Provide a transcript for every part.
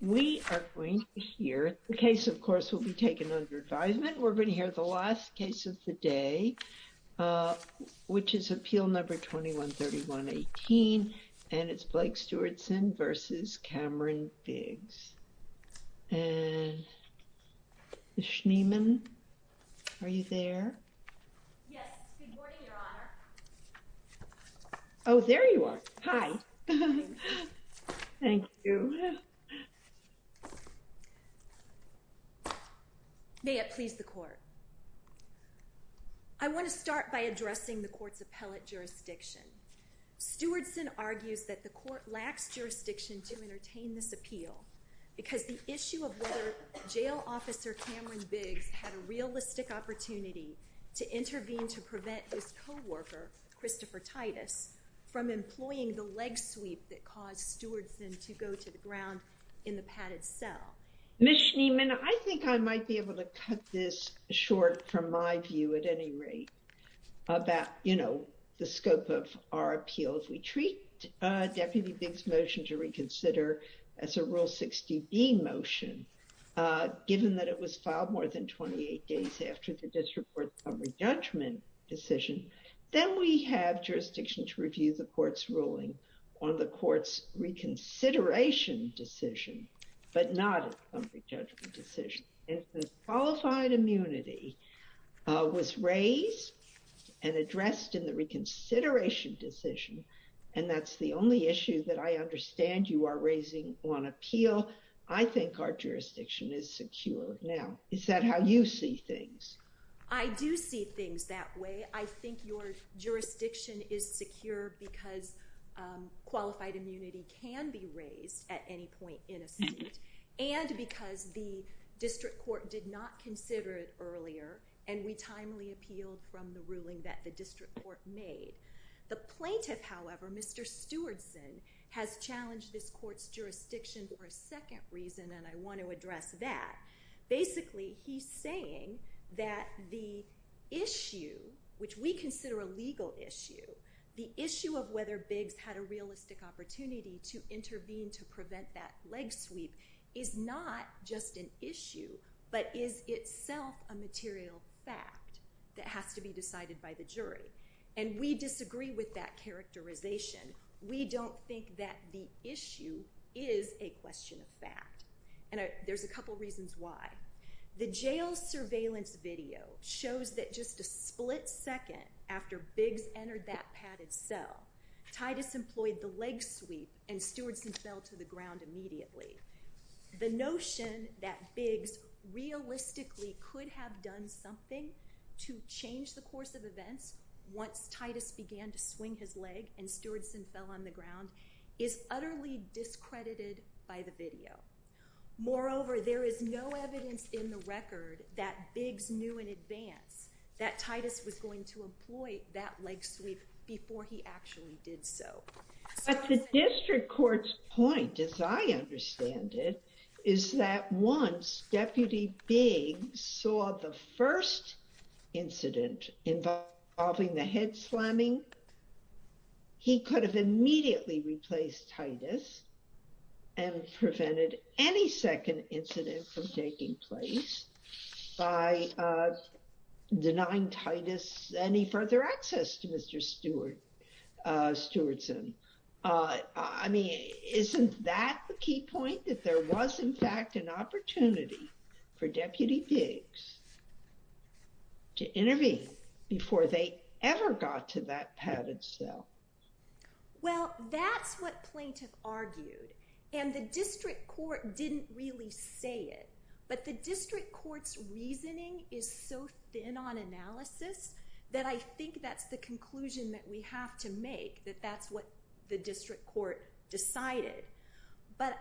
We are going to hear, the case of course will be taken under advisement, we're going to hear the last case of the day, which is appeal number 21-31-18, and it's Blake Stewardson v. Cameron Biggs. And, Schneeman, are you there? Yes, good morning, Your Honor. Oh, there you are. Hi. Thank you. I want to start by addressing the court's appellate jurisdiction. Stewardson argues that the court lacks jurisdiction to entertain this appeal, because the issue of whether Jail Officer Cameron Biggs had a realistic opportunity to intervene to prevent his co-worker, Christopher Titus, from employing the leg sweep that caused Stewardson to go to the ground in the padded cell. Ms. Schneeman, I think I might be able to cut this short from my view at any rate about, you know, the scope of our appeal. So if we treat Deputy Biggs' motion to reconsider as a Rule 60B motion, given that it was filed more than 28 days after the district court's summary judgment decision, then we have jurisdiction to review the court's ruling on the court's reconsideration decision, but not a summary judgment decision. If the qualified immunity was raised and addressed in the reconsideration decision, and that's the only issue that I understand you are raising on appeal, I think our jurisdiction is secure now. Is that how you see things? I do see things that way. I think your jurisdiction is secure because qualified immunity can be raised at any point in a suit, and because the district court did not consider it earlier, and we timely appealed from the ruling that the district court made. The plaintiff, however, Mr. Stewardson, has challenged this court's jurisdiction for a second reason, and I want to address that. Basically, he's saying that the issue, which we consider a legal issue, the issue of whether Biggs had a realistic opportunity to intervene to prevent that leg sweep, is not just an issue, but is itself a material fact that has to be decided by the jury. And we disagree with that characterization. We don't think that the issue is a question of fact, and there's a couple reasons why. The jail surveillance video shows that just a split second after Biggs entered that padded cell, Titus employed the leg sweep, and Stewardson fell to the ground immediately. The notion that Biggs realistically could have done something to change the course of events once Titus began to swing his leg and Stewardson fell on the ground is utterly discredited by the video. Moreover, there is no evidence in the record that Biggs knew in advance that Titus was going to employ that leg sweep before he actually did so. But the district court's point, as I understand it, is that once Deputy Biggs saw the first incident involving the head slamming, he could have immediately replaced Titus and prevented any second incident from taking place by denying Titus any further access to Mr. Stewardson. I mean, isn't that the key point, that there was, in fact, an opportunity for Deputy Biggs to intervene before they ever got to that padded cell? Well, that's what plaintiff argued, and the district court didn't really say it, but the district court's reasoning is so thin on analysis that I think that's the conclusion that we have to make, that that's what the district court decided. But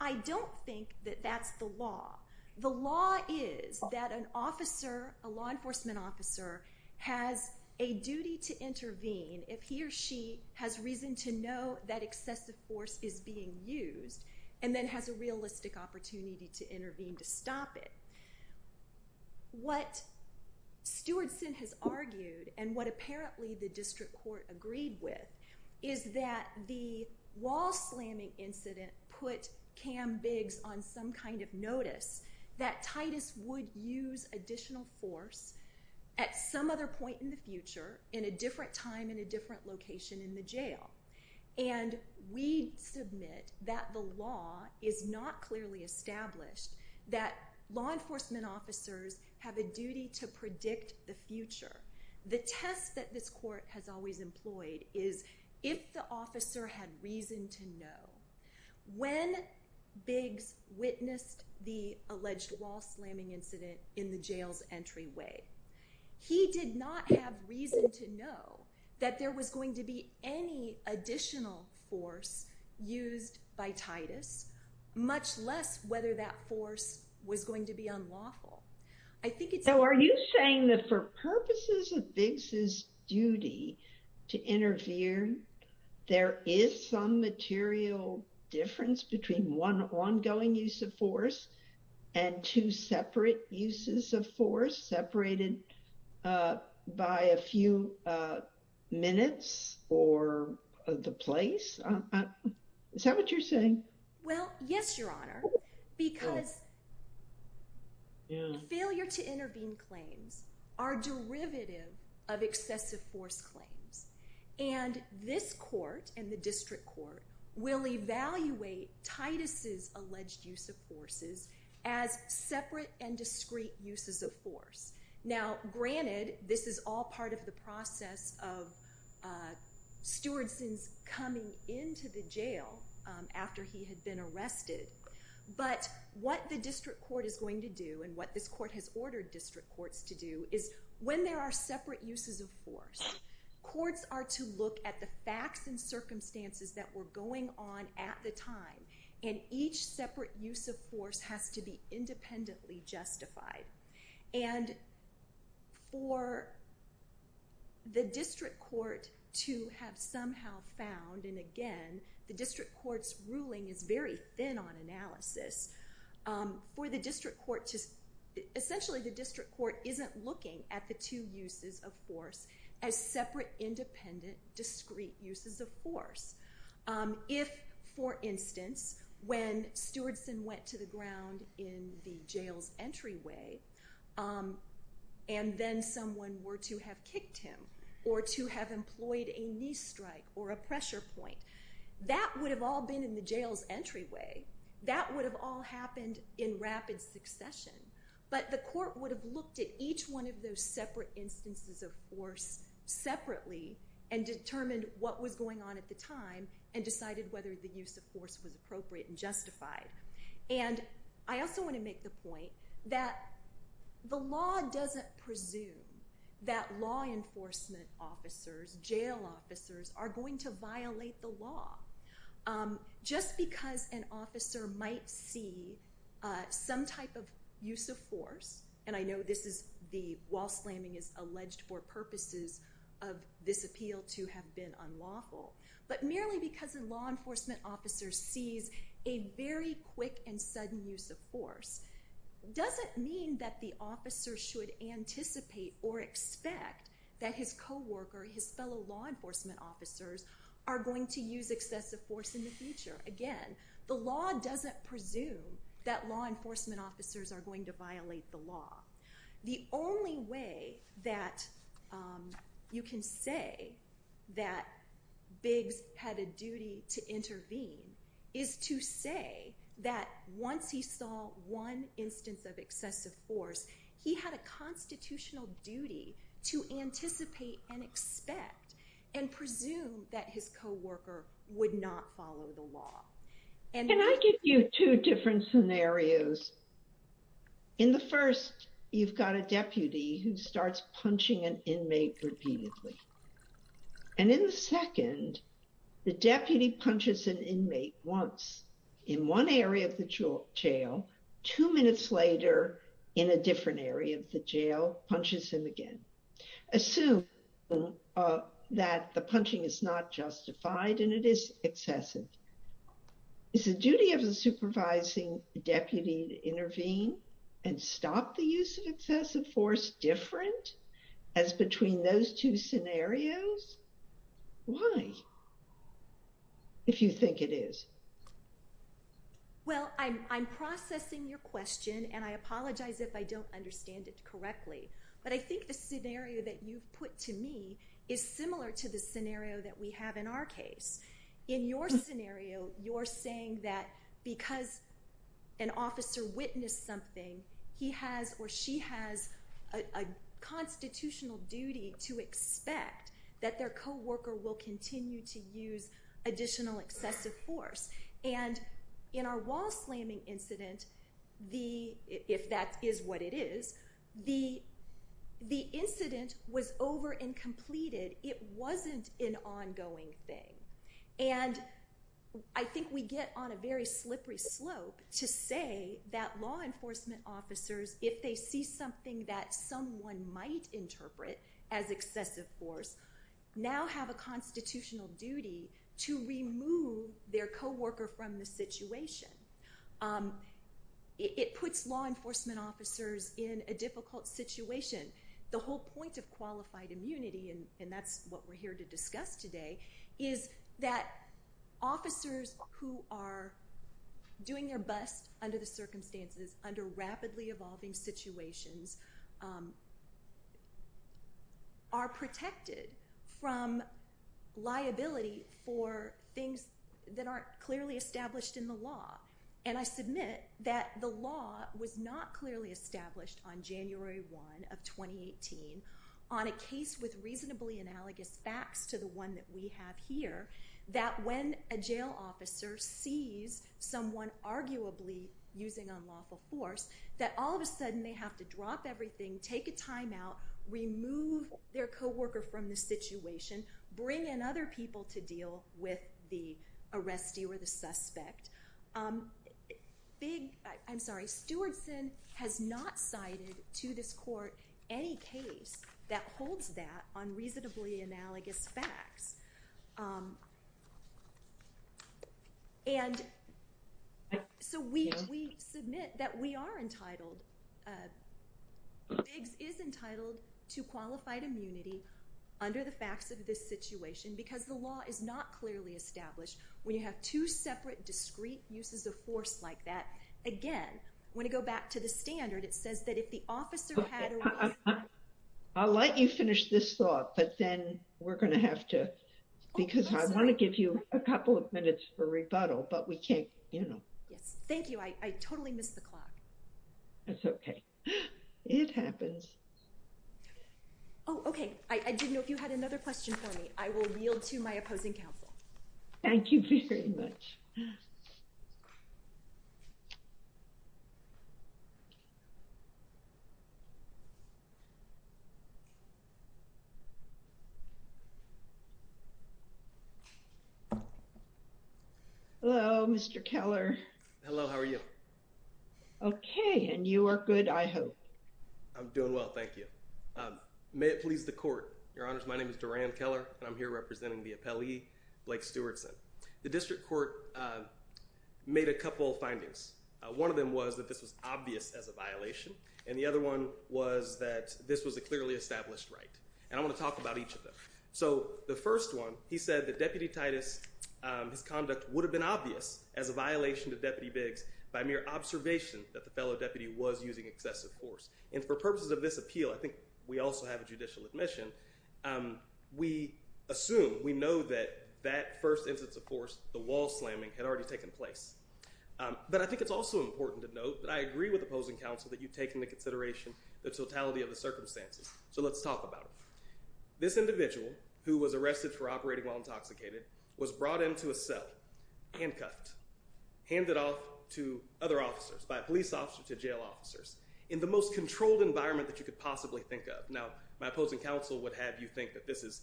I don't think that that's the law. The law is that an officer, a law enforcement officer, has a duty to intervene if he or she has reason to know that excessive force is being used, and then has a realistic opportunity to intervene to stop it. What Stewardson has argued, and what apparently the district court agreed with, is that the wall slamming incident put Cam Biggs on some kind of notice that Titus would use additional force at some other point in the future in a different time in a different location in the jail. And we submit that the law is not clearly established, that law enforcement officers have a duty to predict the future. The test that this court has always employed is, if the officer had reason to know, when Biggs witnessed the alleged wall slamming incident in the jail's entryway, he did not have reason to know that there was going to be any additional force used by Titus, much less whether that force was going to be unlawful. So are you saying that for purposes of Biggs's duty to interfere, there is some material difference between one ongoing use of force and two separate uses of force separated by a few minutes or the place? Is that what you're saying? Well, yes, Your Honor, because failure to intervene claims are derivative of excessive force claims. And this court and the district court will evaluate Titus's alleged use of forces as separate and discrete uses of force. Now, granted, this is all part of the process of Stewardson's coming into the jail after he had been arrested, but what the district court is going to do, and what this court has ordered district courts to do, is when there are separate uses of force, courts are to look at the facts and circumstances that were going on at the time, and each separate use of force has to be independently justified. And for the district court to have somehow found, and again, the district court's ruling is very thin on analysis, essentially the district court isn't looking at the two uses of force as separate, independent, discrete uses of force. If, for instance, when Stewardson went to the ground in the jail's entryway, and then someone were to have kicked him, or to have employed a knee strike, or a pressure point, that would have all been in the jail's entryway. That would have all happened in rapid succession, but the court would have looked at each one of those separate instances of force separately, and determined what was going on at the time, and decided whether the use of force was appropriate and justified. And I also want to make the point that the law doesn't presume that law enforcement officers, jail officers, are going to violate the law. Just because an officer might see some type of use of force, and I know wall slamming is alleged for purposes of this appeal to have been unlawful, but merely because a law enforcement officer sees a very quick and sudden use of force, doesn't mean that the officer should anticipate or expect that his co-worker, his fellow law enforcement officers, are going to use excessive force in the future. Again, the law doesn't presume that law enforcement officers are going to violate the law. The only way that you can say that Biggs had a duty to intervene is to say that once he saw one instance of excessive force, he had a constitutional duty to anticipate and expect and presume that his co-worker would not follow the law. Can I give you two different scenarios? In the first, you've got a deputy who starts punching an inmate repeatedly. And in the second, the deputy punches an inmate once, in one area of the jail, two minutes later, in a different area of the jail, punches him again. Assume that the punching is not justified and it is excessive. Is the duty of the supervising deputy to intervene and stop the use of excessive force different as between those two scenarios? Why, if you think it is? Well, I'm processing your question and I apologize if I don't understand it correctly. But I think the scenario that you've put to me is similar to the scenario that we have in our case. In your scenario, you're saying that because an officer witnessed something, he has or she has a constitutional duty to expect that their co-worker will continue to use additional excessive force. And in our wall-slamming incident, if that is what it is, the incident was over and completed. It wasn't an ongoing thing. And I think we get on a very slippery slope to say that law enforcement officers, if they see something that someone might interpret as excessive force, now have a constitutional duty to remove their co-worker from the situation. It puts law enforcement officers in a difficult situation. The whole point of qualified immunity, and that's what we're here to discuss today, is that officers who are doing their best under the circumstances, under rapidly evolving situations, are protected from liability for things that aren't clearly established in the law. And I submit that the law was not clearly established on January 1 of 2018 on a case with reasonably analogous facts to the one that we have here, that when a jail officer sees someone arguably using unlawful force, that all of a sudden they have to drop everything, take a timeout, remove their co-worker from the situation, bring in other people to deal with the arrestee or the suspect. I'm sorry, Stewartson has not cited to this court any case that holds that on reasonably analogous facts. And so we submit that we are entitled, FIGS is entitled to qualified immunity under the facts of this situation because the law is not clearly established. When you have two separate discreet uses of force like that, again, when you go back to the standard, it says that if the officer had... I'll let you finish this thought, but then we're going to have to, because I want to give you a couple of minutes for rebuttal, but we can't, you know. Yes, thank you. I totally missed the clock. It's okay. It happens. Oh, okay. I didn't know if you had another question for me. I will yield to my opposing counsel. Thank you very much. Hello, Mr. Keller. Hello, how are you? Okay, and you are good, I hope. I'm doing well, thank you. May it please the court. Your Honors, my name is Duran Keller, and I'm here representing the appellee, Blake Stewartson. The district court made a couple of findings. One of them was that this was obvious as a violation, and the other one was that this was a clearly established right. And I want to talk about each of them. So the first one, he said that Deputy Titus, his conduct would have been obvious as a violation to Deputy Biggs by mere observation that the fellow deputy was using excessive force. And for purposes of this appeal, I think we also have a judicial admission. We assume, we know that that first instance of force, the wall slamming, had already taken place. But I think it's also important to note that I agree with opposing counsel that you've taken into consideration the totality of the circumstances. So let's talk about it. This individual, who was arrested for operating while intoxicated, was brought into a cell, handcuffed, handed off to other officers, by a police officer to jail officers, in the most controlled environment that you could possibly think of. Now, my opposing counsel would have you think that this is,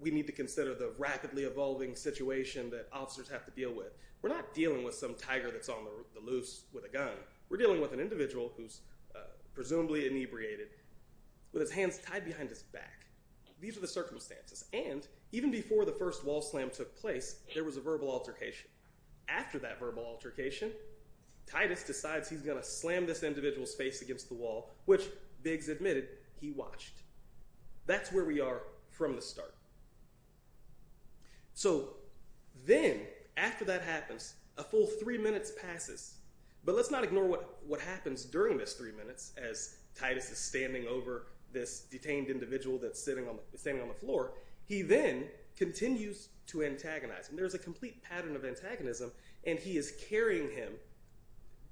we need to consider the rapidly evolving situation that officers have to deal with. We're not dealing with some tiger that's on the loose with a gun. We're dealing with an individual who's presumably inebriated with his hands tied behind his back. These are the circumstances. And even before the first wall slam took place, there was a verbal altercation. After that verbal altercation, Titus decides he's going to slam this individual's face against the wall, which Biggs admitted he watched. That's where we are from the start. So then, after that happens, a full three minutes passes. But let's not ignore what happens during this three minutes as Titus is standing over this detained individual that's standing on the floor. He then continues to antagonize. And there's a complete pattern of antagonism, and he is carrying him,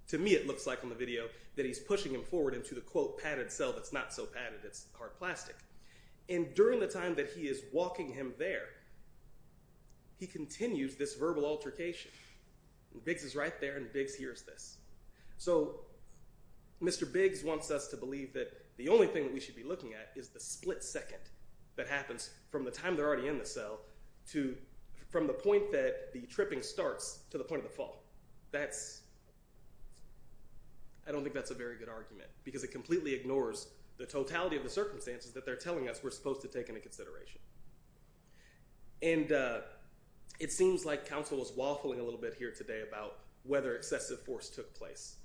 to me it looks like on the video, that he's pushing him forward into the, quote, padded cell that's not so padded. It's hard plastic. And during the time that he is walking him there, he continues this verbal altercation. And Biggs is right there, and Biggs hears this. So Mr. Biggs wants us to believe that the only thing that we should be looking at is the split second that happens from the time they're already in the cell to – from the point that the tripping starts to the point of the fall. That's – I don't think that's a very good argument because it completely ignores the totality of the circumstances that they're telling us we're supposed to take into consideration. And it seems like counsel is waffling a little bit here today about whether excessive force took place.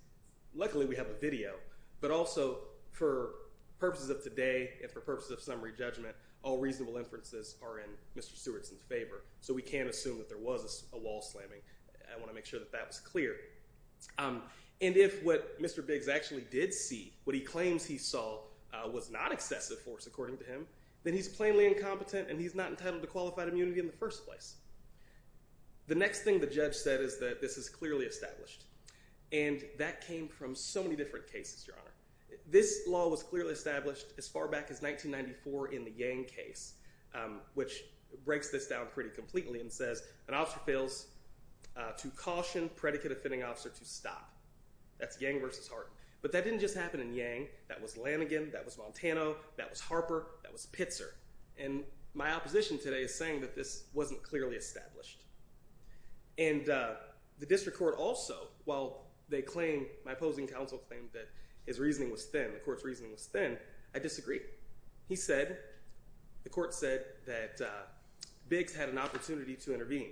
Luckily, we have a video. But also, for purposes of today and for purposes of summary judgment, all reasonable inferences are in Mr. Stewartson's favor, so we can't assume that there was a wall slamming. I want to make sure that that was clear. And if what Mr. Biggs actually did see, what he claims he saw, was not excessive force according to him, then he's plainly incompetent and he's not entitled to qualified immunity in the first place. The next thing the judge said is that this is clearly established. And that came from so many different cases, Your Honor. This law was clearly established as far back as 1994 in the Yang case, which breaks this down pretty completely and says an officer fails to caution predicate-offending officer to stop. That's Yang versus Harden. But that didn't just happen in Yang. That was Lanigan. That was Montano. That was Harper. That was Pitzer. And my opposition today is saying that this wasn't clearly established. And the district court also, while they claim, my opposing counsel claimed that his reasoning was thin, the court's reasoning was thin, I disagree. He said, the court said that Biggs had an opportunity to intervene.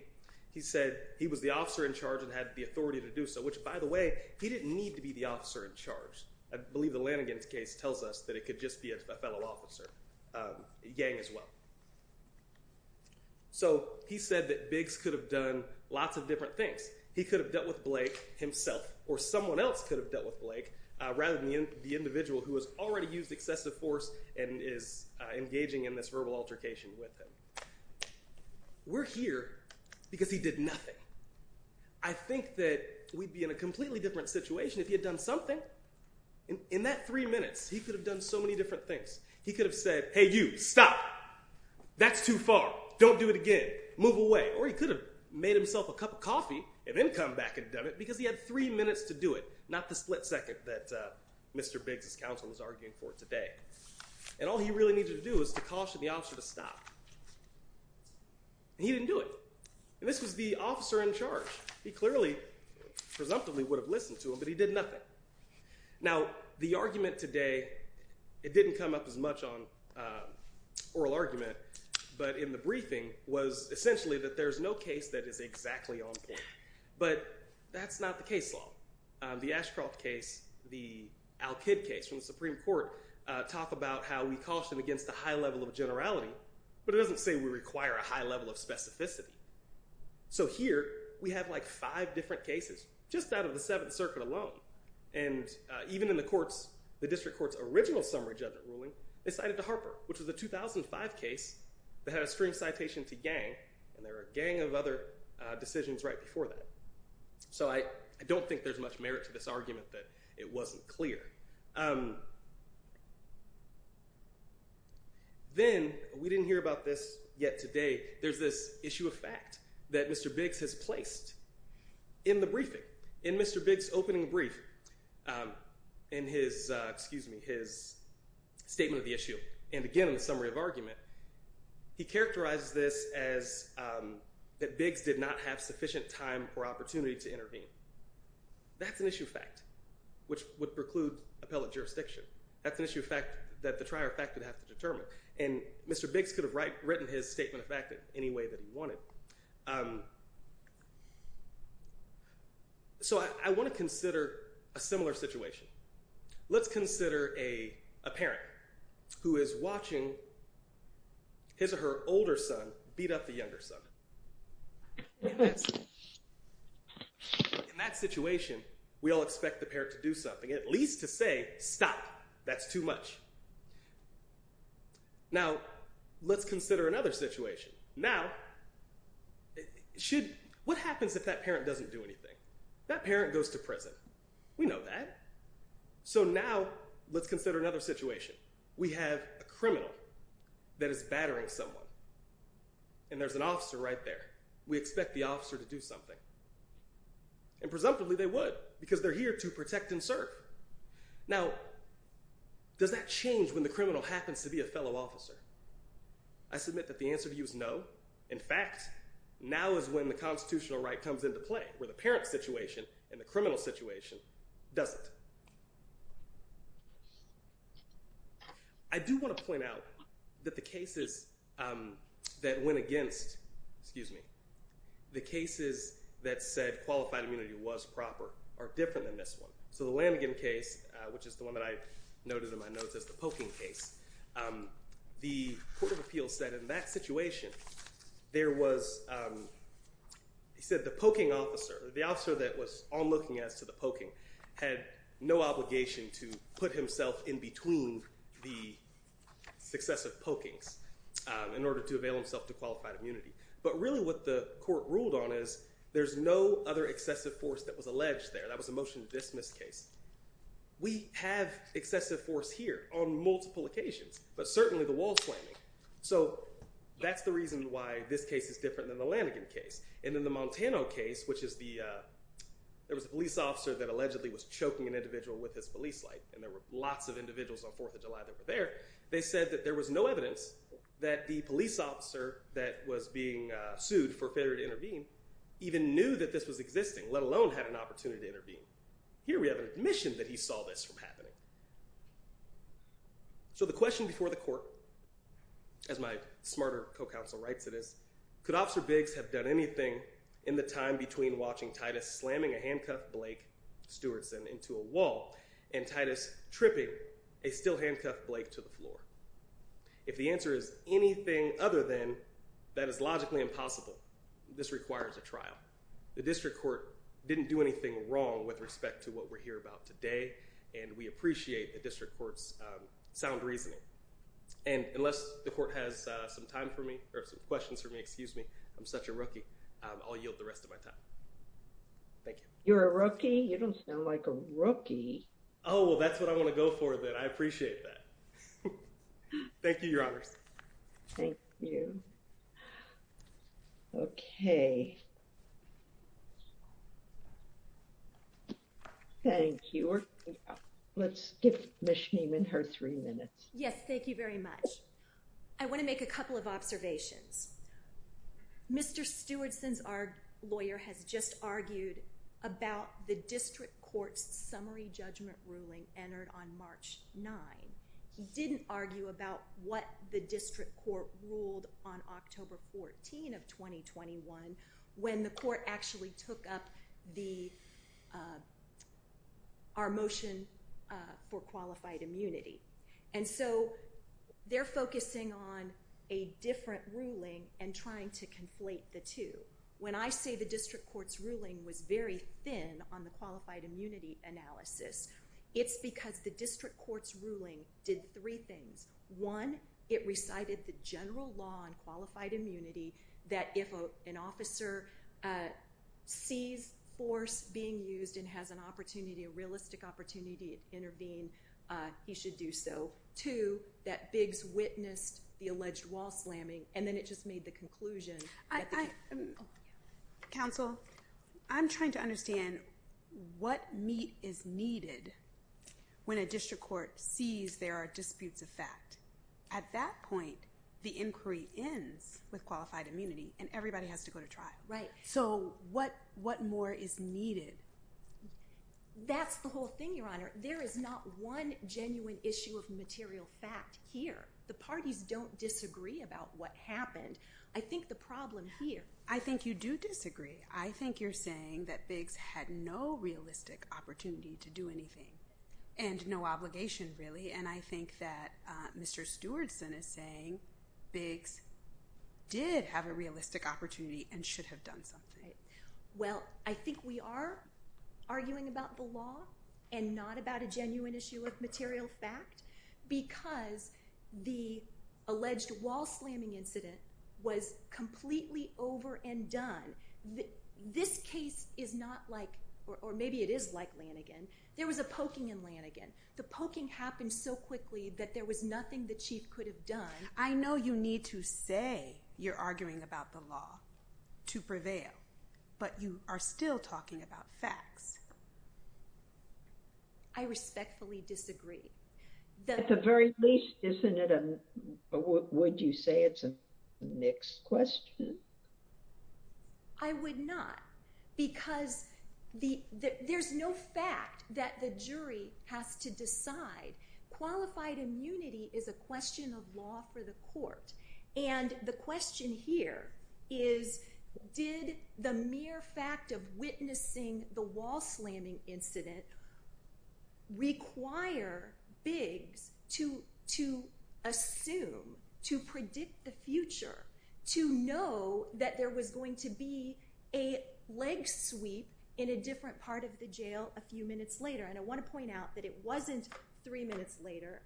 He said he was the officer in charge and had the authority to do so, which by the way, he didn't need to be the officer in charge. I believe the Lanigan's case tells us that it could just be a fellow officer, Yang as well. So he said that Biggs could have done lots of different things. He could have dealt with Blake himself or someone else could have dealt with Blake rather than the individual who has already used excessive force and is engaging in this verbal altercation with him. We're here because he did nothing. I think that we'd be in a completely different situation if he had done something. In that three minutes, he could have done so many different things. He could have said, hey, you, stop. That's too far. Don't do it again. Move away. Or he could have made himself a cup of coffee and then come back and done it because he had three minutes to do it, not the split second that Mr. Biggs' counsel was arguing for today. And all he really needed to do was to caution the officer to stop. And he didn't do it. And this was the officer in charge. He clearly, presumptively, would have listened to him, but he did nothing. Now, the argument today, it didn't come up as much on oral argument, but in the briefing was essentially that there's no case that is exactly on point. But that's not the case law. The Ashcroft case, the Al-Kid case from the Supreme Court talk about how we caution against a high level of generality, but it doesn't say we require a high level of specificity. So here, we have like five different cases just out of the Seventh Circuit alone. And even in the district court's original summary judgment ruling, they cited the Harper, which was a 2005 case that had a string citation to gang, and there were a gang of other decisions right before that. So I don't think there's much merit to this argument that it wasn't clear. Then, we didn't hear about this yet today. There's this issue of fact that Mr. Biggs has placed in the briefing, in Mr. Biggs' opening brief, in his statement of the issue. And again, in the summary of argument, he characterized this as that Biggs did not have sufficient time or opportunity to intervene. That's an issue of fact, which would preclude appellate jurisdiction. That's an issue of fact that the trier of fact would have to determine. And Mr. Biggs could have written his statement of fact any way that he wanted. So I want to consider a similar situation. Let's consider a parent who is watching his or her older son beat up the younger son. In that situation, we all expect the parent to do something, at least to say, stop. That's too much. Now, let's consider another situation. Now, what happens if that parent doesn't do anything? That parent goes to prison. We know that. So now, let's consider another situation. We have a criminal that is battering someone. And there's an officer right there. We expect the officer to do something. And presumptively, they would, because they're here to protect and serve. Now, does that change when the criminal happens to be a fellow officer? I submit that the answer to you is no. In fact, now is when the constitutional right comes into play, where the parent situation and the criminal situation doesn't. I do want to point out that the cases that went against, excuse me, the cases that said qualified immunity was proper are different than this one. So the Lamingham case, which is the one that I noted in my notes as the poking case, the Court of Appeals said in that situation there was, they said the poking officer, the officer that was onlooking as to the poking, had no obligation to put himself in between the successive pokings in order to avail himself to qualified immunity. But really what the court ruled on is there's no other excessive force that was alleged there. That was a motion to dismiss case. We have excessive force here on multiple occasions, but certainly the wall slamming. So that's the reason why this case is different than the Lamingham case. And in the Montano case, which is the, there was a police officer that allegedly was choking an individual with his police light, and there were lots of individuals on 4th of July that were there. They said that there was no evidence that the police officer that was being sued for failure to intervene even knew that this was existing, let alone had an opportunity to intervene. Here we have an admission that he saw this from happening. So the question before the court, as my smarter co-counsel writes it is, could Officer Biggs have done anything in the time between watching Titus slamming a handcuffed Blake Stewartson into a wall and Titus tripping a still handcuffed Blake to the floor? If the answer is anything other than that is logically impossible, this requires a trial. The district court didn't do anything wrong with respect to what we're here about today, and we appreciate the district court's sound reasoning. And unless the court has some time for me, or some questions for me, excuse me, I'm such a rookie, I'll yield the rest of my time. Thank you. You're a rookie? You don't sound like a rookie. Oh, well, that's what I want to go for then. I appreciate that. Thank you, Your Honors. Thank you. Okay. Thank you. Let's give Ms. Scheem in her three minutes. Yes, thank you very much. I want to make a couple of observations. Mr. Stewartson, our lawyer, has just argued about the district court's summary judgment ruling entered on March 9. He didn't argue about what the district court ruled on October 14 of 2021 when the court actually took up our motion for qualified immunity. And so they're focusing on a different ruling and trying to conflate the two. When I say the district court's ruling was very thin on the qualified immunity analysis, it's because the district court's ruling did three things. One, it recited the general law on qualified immunity, that if an officer sees force being used and has an opportunity, a realistic opportunity to intervene, he should do so. Two, that Biggs witnessed the alleged wall slamming, and then it just made the conclusion. Counsel, I'm trying to understand what meat is needed when a district court sees there are disputes of fact. At that point, the inquiry ends with qualified immunity, and everybody has to go to trial. Right. So what more is needed? That's the whole thing, Your Honor. There is not one genuine issue of material fact here. The parties don't disagree about what happened. I think the problem here— I think you do disagree. I think you're saying that Biggs had no realistic opportunity to do anything and no obligation, really, and I think that Mr. Stewartson is saying Biggs did have a realistic opportunity and should have done something. Well, I think we are arguing about the law and not about a genuine issue of material fact because the alleged wall slamming incident was completely over and done. This case is not like—or maybe it is like—Lanigan. There was a poking in Lanigan. The poking happened so quickly that there was nothing the Chief could have done. I know you need to say you're arguing about the law to prevail, but you are still talking about facts. I respectfully disagree. At the very least, wouldn't you say it's a mixed question? I would not because there's no fact that the jury has to decide. Qualified immunity is a question of law for the court, and the question here is, did the mere fact of witnessing the wall slamming incident require Biggs to assume, to predict the future, to know that there was going to be a leg sweep in a different part of the jail a few minutes later? And I want to point out that it wasn't three minutes later,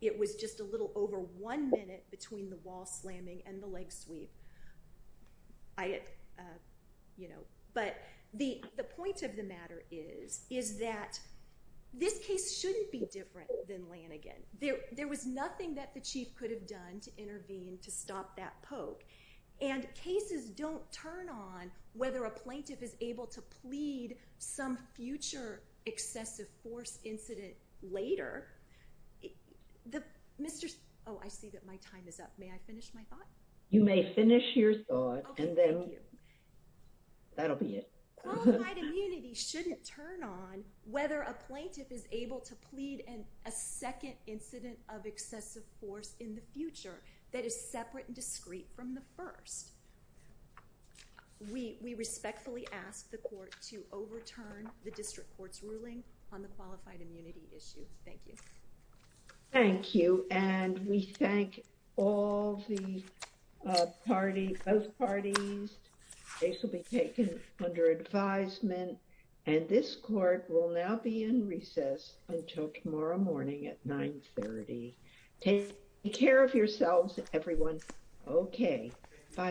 it was just a little over one minute between the wall slamming and the leg sweep. But the point of the matter is that this case shouldn't be different than Lanigan. There was nothing that the Chief could have done to intervene to stop that poke, and cases don't turn on whether a plaintiff is able to plead some future excessive force incident later. Oh, I see that my time is up. May I finish my thought? You may finish your thought, and then that'll be it. Qualified immunity shouldn't turn on whether a plaintiff is able to plead a second incident of excessive force in the future that is separate and discreet from the first. We respectfully ask the Court to overturn the District Court's ruling on the qualified immunity issue. Thank you. Thank you, and we thank all the parties, both parties. The case will be taken under advisement, and this Court will now be in recess until tomorrow morning at 9.30. Take care of yourselves, everyone. Okay, bye.